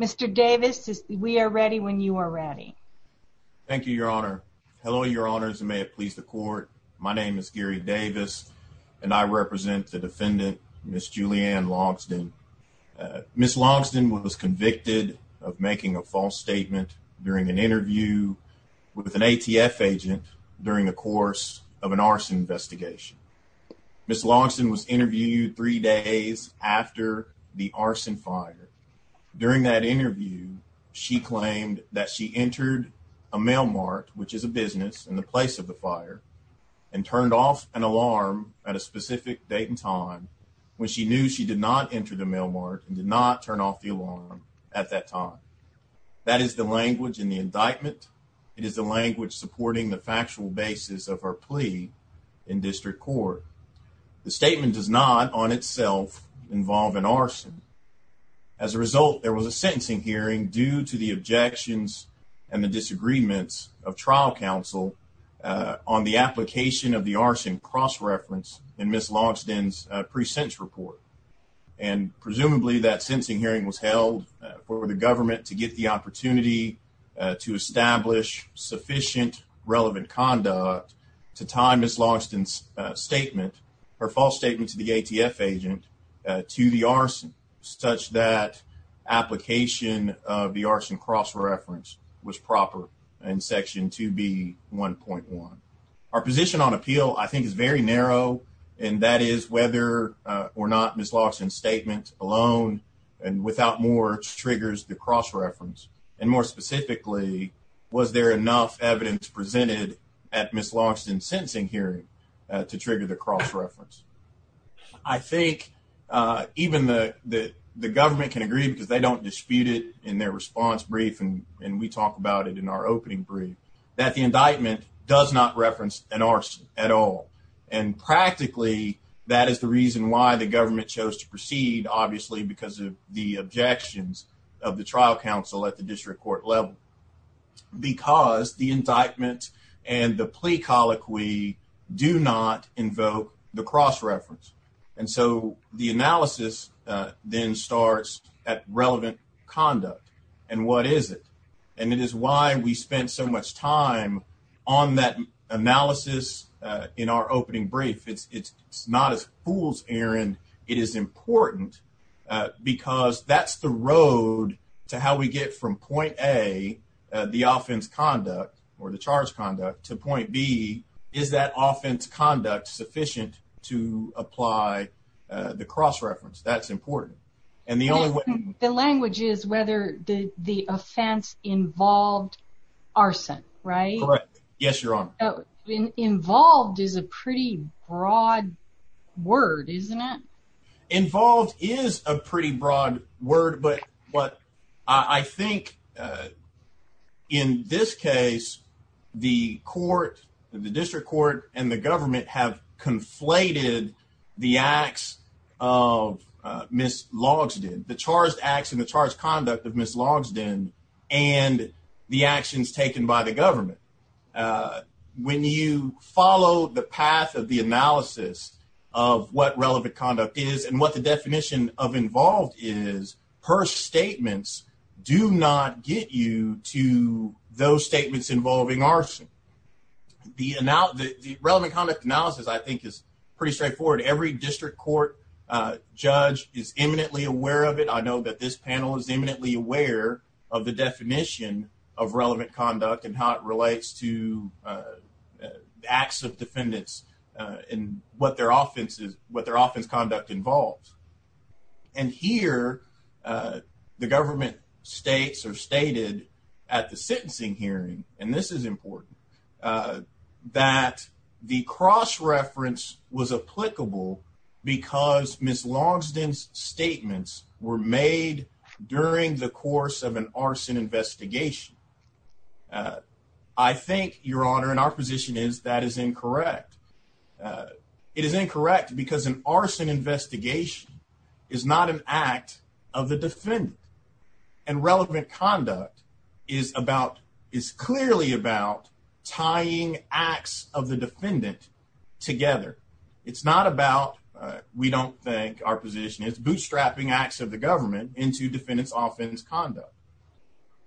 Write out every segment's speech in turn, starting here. Mr. Davis, we are ready when you are ready. Thank you, Your Honor. Hello, Your Honors, and may it please the court. My name is Gary Davis, and I represent the defendant, Ms. Julianne Logsdon. Ms. Logsdon was convicted of making a false statement during an interview with an ATF agent during the course of an arson investigation. Ms. Logsdon was interviewed three days after the arson fire. During that interview, she claimed that she entered a mail mart, which is a business in the place of the fire, and turned off an alarm at a specific date and time when she knew she did not enter the mail mart and did not turn off the alarm at that time. That is the language in the indictment. It is the language supporting the factual basis of her plea in district court. The statement does not, on itself, involve an arson. As a result, there was a sentencing hearing due to the objections and the disagreements of trial counsel on the application of the arson cross-reference in Ms. Logsdon's pre-sentence report. Presumably, that sentencing hearing was held for the government to get the opportunity to establish sufficient relevant conduct to time Ms. Logsdon's statement, her false statement to the ATF agent, to the arson, such that application of the arson cross-reference was proper in Section 2B.1.1. Our position on appeal, I think, is very narrow, and that is whether or not Ms. Logsdon's statement alone and without more triggers the cross-reference. And more specifically, was there enough evidence presented at Ms. Logsdon's sentencing hearing to trigger the cross-reference? I think even the government can agree, because they don't dispute it in their response brief, and we talk about it in our opening brief, that the indictment does not reference an arson at all. And practically, that is the reason why the government chose to proceed, obviously, because of the objections of the trial counsel at the district court level, because the indictment and the plea colloquy do not invoke the cross-reference. And so the analysis then starts at relevant conduct, and what is it? And it is why we spent so much time on that analysis in our opening brief. It's not a fool's errand. It is important, because that's the road to how we get from point A, the offense conduct or the charge conduct, to point B, is that offense conduct sufficient to apply the cross-reference? That's important. The language is whether the offense involved arson, right? Correct. Yes, Your Honor. Involved is a pretty broad word, isn't it? Involved is a pretty broad word, but I think in this case, the court, the district court, and the government have conflated the acts of Ms. Logsdon, the charged acts and the charged conduct of Ms. Logsdon, and the actions taken by the government. When you follow the path of the analysis of what relevant conduct is and what the definition of involved is, her statements do not get you to those statements involving arson. The relevant conduct analysis, I think, is pretty straightforward. Every district court judge is eminently aware of it. I know that this panel is eminently aware of the definition of relevant conduct and how it relates to acts of defendants and what their offense conduct involves. And here, the government states or stated at the sentencing hearing, and this is important, that the cross-reference was applicable because Ms. Logsdon's statements were made during the course of an arson investigation. I think, Your Honor, and our position is that is incorrect. It is incorrect because an arson investigation is not an act of the defendant. And relevant conduct is clearly about tying acts of the defendant together. It's not about, we don't think our position is, bootstrapping acts of the government into defendants' offense conduct.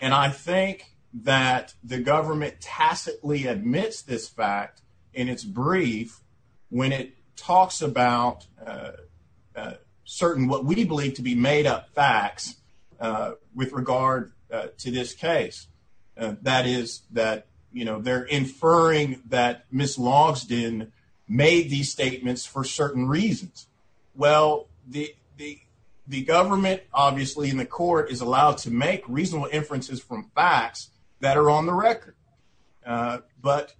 And I think that the government tacitly admits this fact in its brief when it talks about certain, what we believe to be made-up facts with regard to this case. That is that they're inferring that Ms. Logsdon made these statements for certain reasons. Well, the government, obviously, and the court is allowed to make reasonable inferences from facts that are on the record. But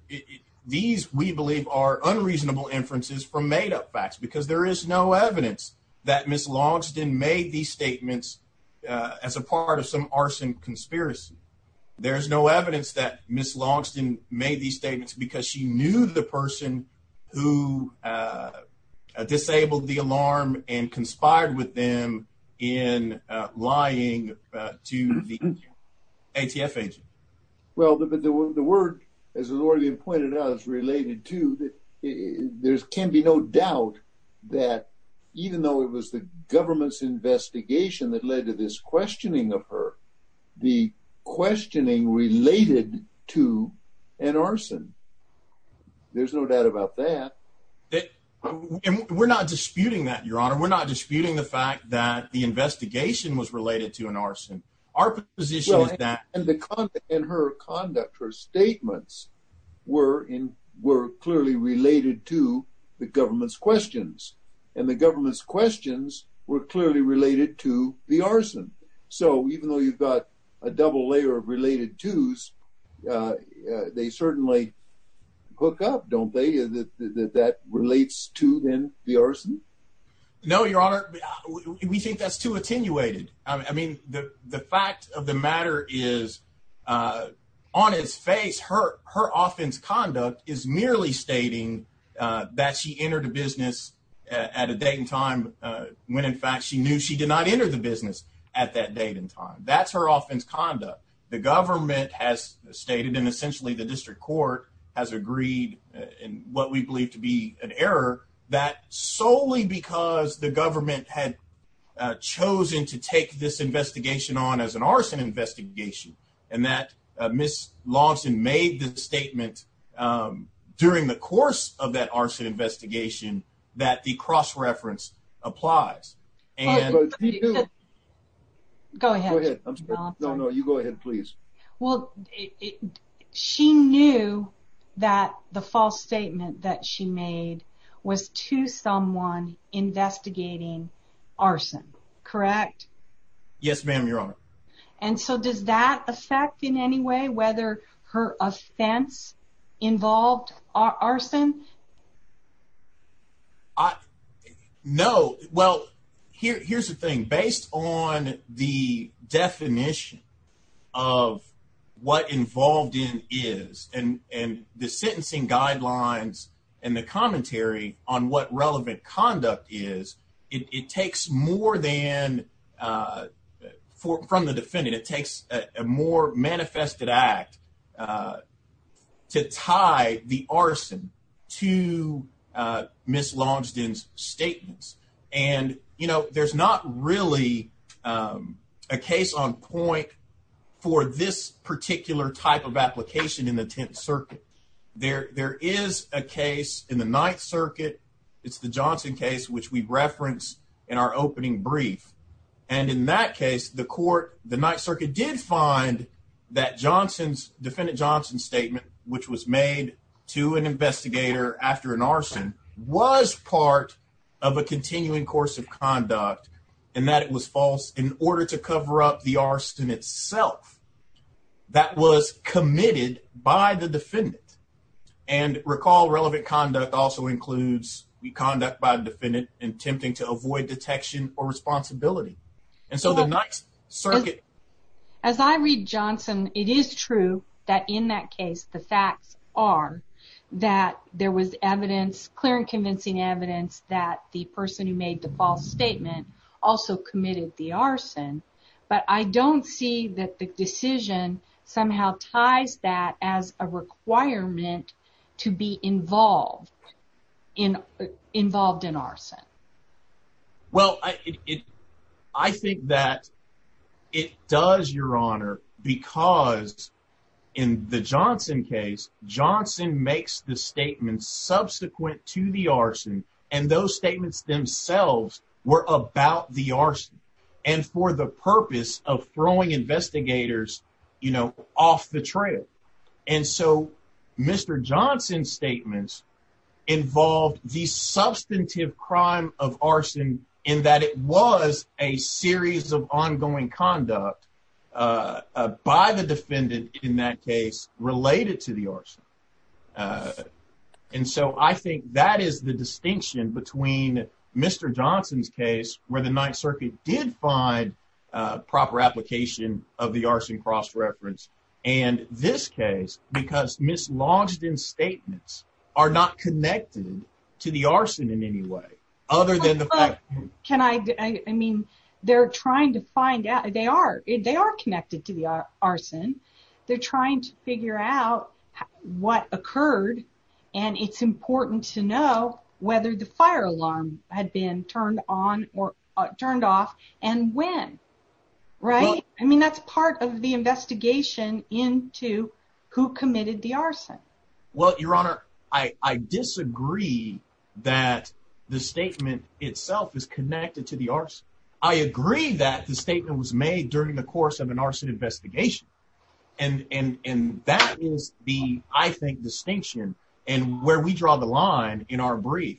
these, we believe, are unreasonable inferences from made-up facts because there is no evidence that Ms. Logsdon made these statements as a part of some arson conspiracy. There is no evidence that Ms. Logsdon made these statements because she knew the person who disabled the alarm and conspired with them in lying to the ATF agent. Well, the word, as has already been pointed out, is related to, there can be no doubt that, even though it was the government's investigation that led to this questioning of her, the questioning related to an arson. There's no doubt about that. We're not disputing that, Your Honor. We're not disputing the fact that the investigation was related to an arson. And her conduct, her statements, were clearly related to the government's questions. And the government's questions were clearly related to the arson. So even though you've got a double layer of related to's, they certainly hook up, don't they, that that relates to, then, the arson? No, Your Honor. We think that's too attenuated. I mean, the fact of the matter is, on its face, her offense conduct is merely stating that she entered a business at a date and time when, in fact, she knew she did not enter the business at that date and time. That's her offense conduct. The government has stated, and essentially the district court has agreed in what we believe to be an error, that solely because the government had chosen to take this investigation on as an arson investigation, and that Ms. Longston made the statement during the course of that arson investigation that the cross-reference applies. Go ahead. No, no, you go ahead, please. Well, she knew that the false statement that she made was to someone investigating arson, correct? Yes, ma'am, Your Honor. And so does that affect in any way whether her offense involved arson? No. Well, here's the thing. Based on the definition of what involved in is and the sentencing guidelines and the commentary on what relevant conduct is, it takes more than from the defendant, it takes a more manifested act to tie the arson to Ms. Longston's statements. And, you know, there's not really a case on point for this particular type of application in the Tenth Circuit. There is a case in the Ninth Circuit. It's the Johnson case, which we referenced in our opening brief. And in that case, the court, the Ninth Circuit, did find that Johnson's, Defendant Johnson's statement, which was made to an investigator after an arson, was part of a continuing course of conduct and that it was false in order to cover up the arson itself. That was committed by the defendant. And recall relevant conduct also includes conduct by the defendant attempting to avoid detection or responsibility. And so the Ninth Circuit... As I read Johnson, it is true that in that case, the facts are that there was evidence, clear and convincing evidence, that the person who made the false statement also committed the arson. But I don't see that the decision somehow ties that as a requirement to be involved in arson. Well, I think that it does, Your Honor, because in the Johnson case, Johnson makes the statement subsequent to the arson. And those statements themselves were about the arson. And for the purpose of throwing investigators, you know, off the trail. And so Mr. Johnson's statements involved the substantive crime of arson, in that it was a series of ongoing conduct by the defendant in that case related to the arson. And so I think that is the distinction between Mr. Johnson's case, where the Ninth Circuit did find proper application of the arson cross-reference, and this case, because mislodged statements are not connected to the arson in any way, other than the fact... Can I... I mean, they're trying to find out... They are connected to the arson. They're trying to figure out what occurred, and it's important to know whether the fire alarm had been turned on or turned off, and when. Right? I mean, that's part of the investigation into who committed the arson. Well, Your Honor, I disagree that the statement itself is connected to the arson. I agree that the statement was made during the course of an arson investigation, and that is the, I think, distinction, and where we draw the line in our brief.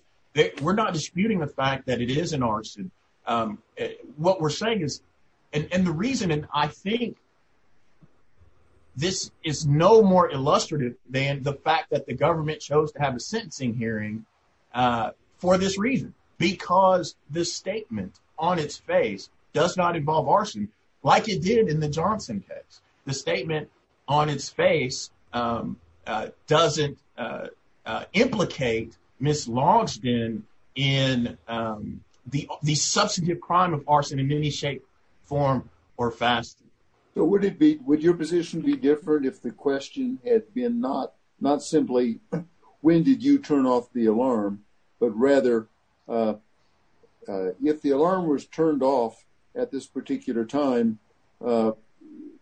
We're not disputing the fact that it is an arson. What we're saying is... And the reason, and I think this is no more illustrative than the fact that the government chose to have a sentencing hearing for this reason, because the statement on its face does not involve arson, like it did in the Johnson case. The statement on its face doesn't implicate mislodged in the substantive crime of arson in any shape, form, or fashion. So would your position be different if the question had been not simply, when did you turn off the alarm, but rather if the alarm was turned off at this particular time,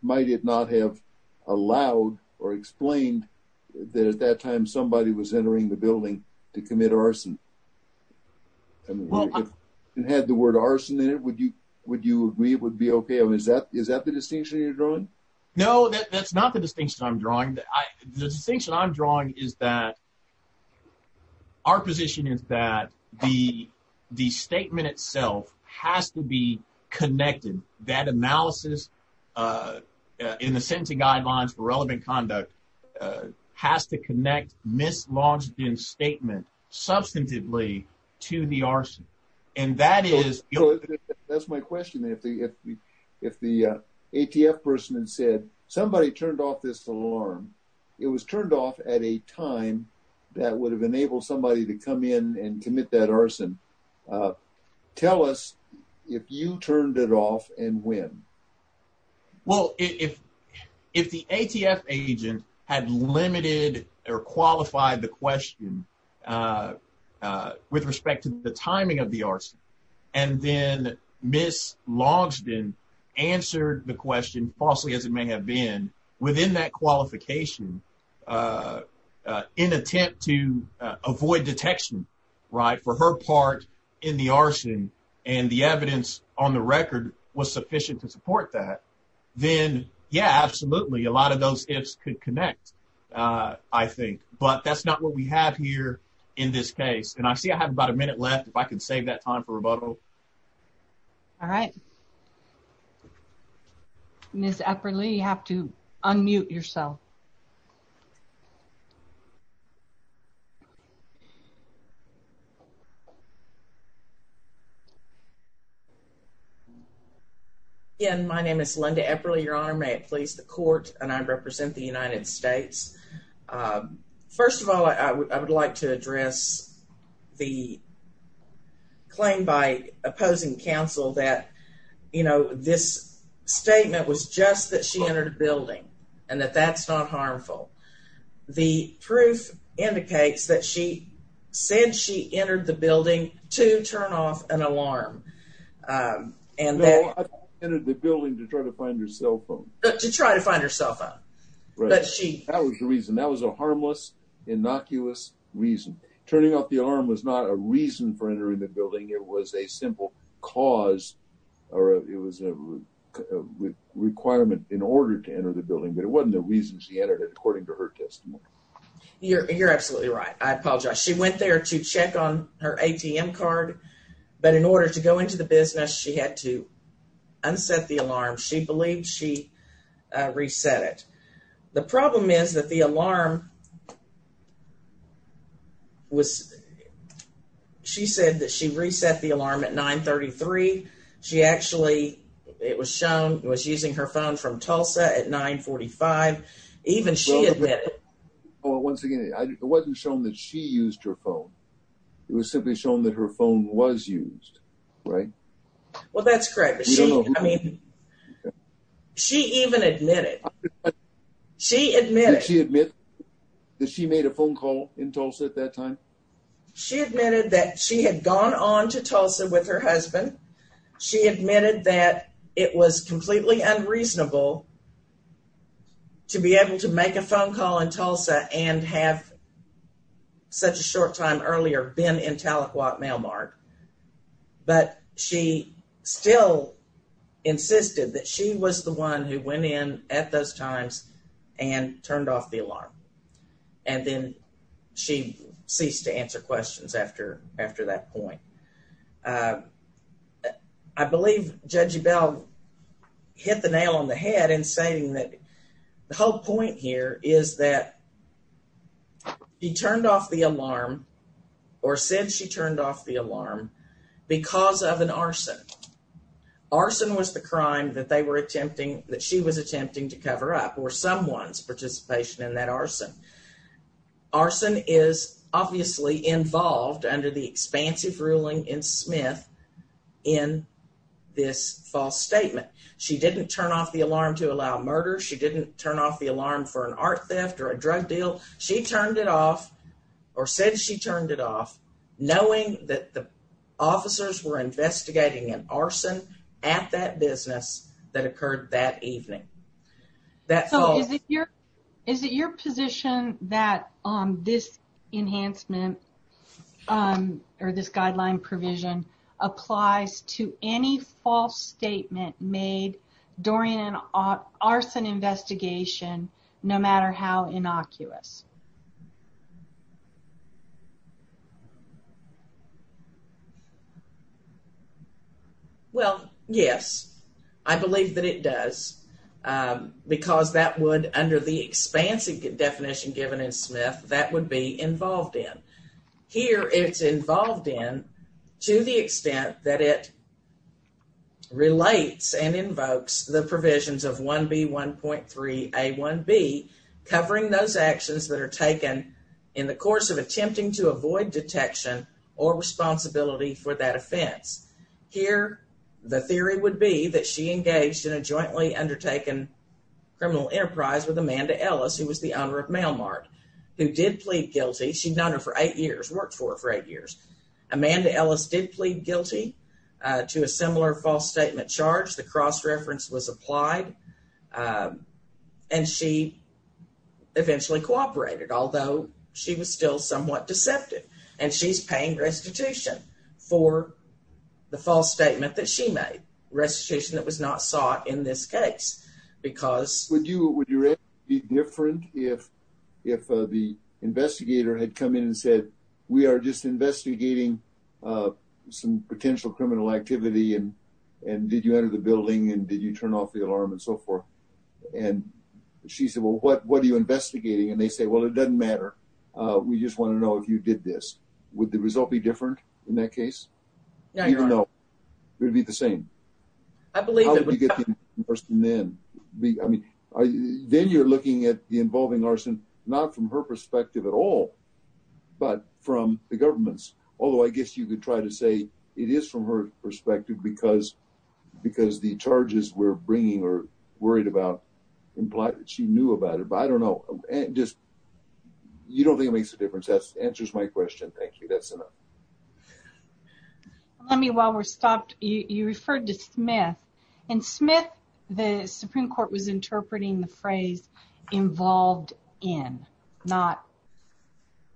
might it not have allowed or explained that at that time somebody was entering the building to commit arson? And had the word arson in it, would you agree it would be okay? I mean, is that the distinction you're drawing? The distinction I'm drawing is that our position is that the statement itself has to be connected. That analysis in the sentencing guidelines for relevant conduct has to connect mislodged in statement substantively to the arson. That's my question. If the ATF person had said somebody turned off this alarm, it was turned off at a time that would have enabled somebody to come in and commit that arson. Tell us if you turned it off and when. Well, if if the ATF agent had limited or qualified the question with respect to the timing of the arson, and then mislodged in answered the question falsely as it may have been within that qualification in attempt to avoid detection. Right. For her part in the arson and the evidence on the record was sufficient to support that. Then, yeah, absolutely. A lot of those ifs could connect, I think. But that's not what we have here in this case. And I see I have about a minute left. If I can save that time for rebuttal. All right. Ms. Epperle, you have to unmute yourself. My name is Linda Epperle, Your Honor. May it please the court. And I represent the United States. First of all, I would like to address the claim by opposing counsel that, you know, this statement was just that she entered a building and that that's not harmful. The proof indicates that she said she entered the building to turn off an alarm. No, I entered the building to try to find her cell phone. That was the reason. That was a harmless, innocuous reason. Turning off the alarm was not a reason for entering the building. It was a simple cause or it was a requirement in order to enter the building. But it wasn't the reason she entered it, according to her testimony. You're absolutely right. I apologize. She went there to check on her ATM card. But in order to go into the business, she had to unset the alarm. She believed she reset it. The problem is that the alarm was she said that she reset the alarm at 933. She actually it was shown it was using her phone from Tulsa at 945. Even she admitted it. Well, once again, it wasn't shown that she used her phone. It was simply shown that her phone was used. Right. Well, that's correct. I mean, she even admitted. She admitted. She admitted that she made a phone call in Tulsa at that time. She admitted that she had gone on to Tulsa with her husband. She admitted that it was completely unreasonable to be able to make a phone call in Tulsa and have such a short time earlier been in Tahlequah Mail Mart. But she still insisted that she was the one who went in at those times and turned off the alarm. And then she ceased to answer questions after after that point. I believe Judge Bell hit the nail on the head in saying that the whole point here is that. He turned off the alarm or said she turned off the alarm because of an arson. Arson was the crime that they were attempting, that she was attempting to cover up or someone's participation in that arson. Arson is obviously involved under the expansive ruling in Smith in this false statement. She didn't turn off the alarm to allow murder. She didn't turn off the alarm for an art theft or a drug deal. She turned it off or said she turned it off, knowing that the officers were investigating an arson at that business that occurred that evening. So is it your is it your position that this enhancement or this guideline provision applies to any false statement made during an arson investigation, no matter how innocuous? Well, yes, I believe that it does, because that would under the expansive definition given in Smith, that would be involved in here. It's involved in to the extent that it relates and invokes the provisions of 1B1.3A1B covering those actions that are taken in the course of attempting to avoid detection or responsibility for that offense. Here, the theory would be that she engaged in a jointly undertaken criminal enterprise with Amanda Ellis, who was the owner of Mail Mart, who did plead guilty. She'd known her for eight years, worked for her for eight years. Amanda Ellis did plead guilty to a similar false statement charge. The cross-reference was applied, and she eventually cooperated, although she was still somewhat deceptive. And she's paying restitution for the false statement that she made, restitution that was not sought in this case. Would you be different if the investigator had come in and said, we are just investigating some potential criminal activity? And did you enter the building and did you turn off the alarm and so forth? And she said, well, what are you investigating? And they say, well, it doesn't matter. We just want to know if you did this. Would the result be different in that case? Even though it would be the same. I mean, then you're looking at the involving arson, not from her perspective at all, but from the government's. Although I guess you could try to say it is from her perspective because the charges we're bringing are worried about implied that she knew about it. But I don't know. You don't think it makes a difference. That answers my question. Thank you. That's enough. Let me while we're stopped. You referred to Smith and Smith. The Supreme Court was interpreting the phrase involved in not.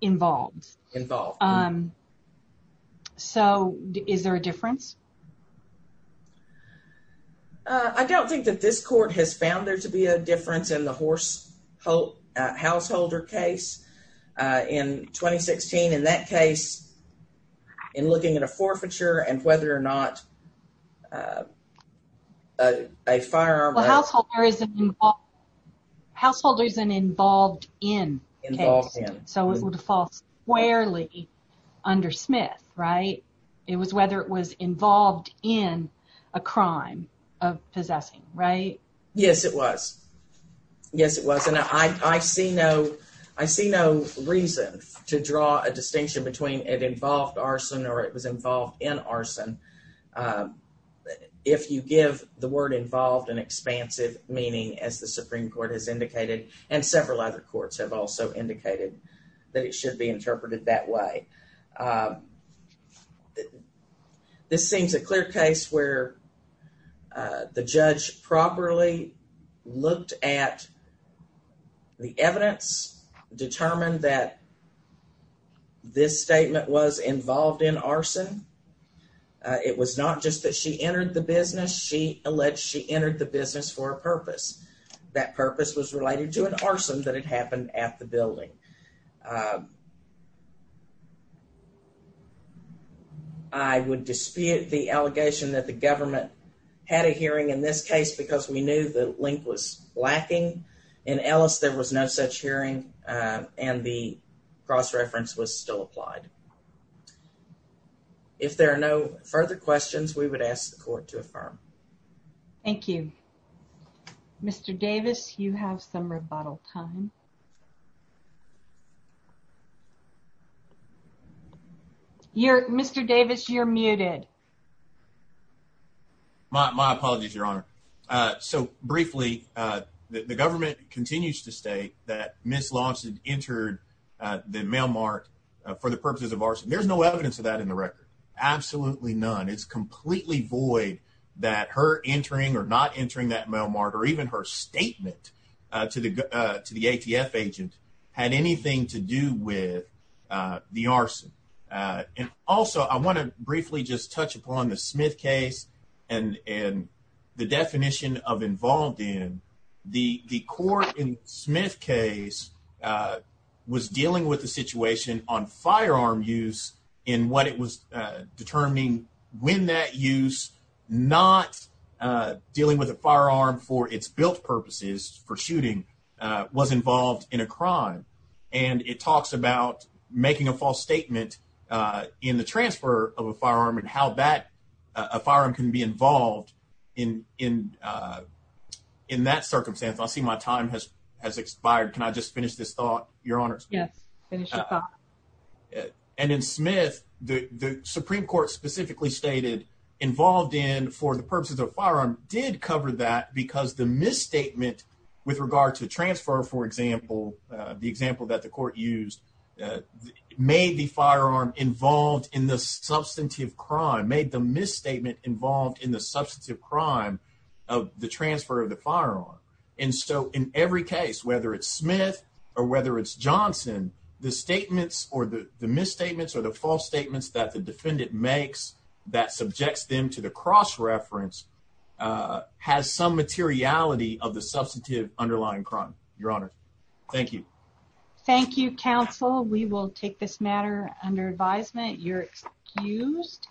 Involved involved. So is there a difference? I don't think that this court has found there to be a difference in the horse householder case in 2016. In that case, in looking at a forfeiture and whether or not a firearm. Householders and involved in. So it would fall squarely under Smith. Right. It was whether it was involved in a crime of possessing. Right. Yes, it was. Yes, it was. And I see no I see no reason to draw a distinction between it involved arson or it was involved in arson. If you give the word involved an expansive meaning, as the Supreme Court has indicated, and several other courts have also indicated that it should be interpreted that way. This seems a clear case where the judge properly looked at. The evidence determined that this statement was involved in arson. It was not just that she entered the business. She alleged she entered the business for a purpose. That purpose was related to an arson that had happened at the building. I would dispute the allegation that the government had a hearing in this case because we knew the link was lacking in Ellis. There was no such hearing and the cross reference was still applied. If there are no further questions, we would ask the court to affirm. Thank you, Mr. Davis. You have some rebuttal time. You're Mr. Davis. You're muted. My apologies, Your Honor. So briefly, the government continues to state that Miss Lawson entered the mailmark for the purposes of arson. There's no evidence of that in the record. Absolutely none. It's completely void that her entering or not entering that mailmark or even her statement to the to the ATF agent had anything to do with the arson. And also, I want to briefly just touch upon the Smith case and and the definition of involved in the court. Smith case was dealing with the situation on firearm use in what it was determining when that use not dealing with a firearm for its built purposes for shooting was involved in a crime. And it talks about making a false statement in the transfer of a firearm and how bad a firearm can be involved in in in that circumstance. I see my time has has expired. Can I just finish this thought, Your Honor? Yes. And in Smith, the Supreme Court specifically stated involved in for the purposes of firearm did cover that because the misstatement with regard to transfer, for example, the example that the court used made the firearm involved in the substantive crime, made the misstatement involved in the substantive crime of the transfer of the firearm. And so in every case, whether it's Smith or whether it's Johnson, the statements or the misstatements or the false statements that the defendant makes that subjects them to the cross reference has some materiality of the substantive underlying crime. Your Honor. Thank you. Thank you, counsel. We will take this matter under advisement. You're excused.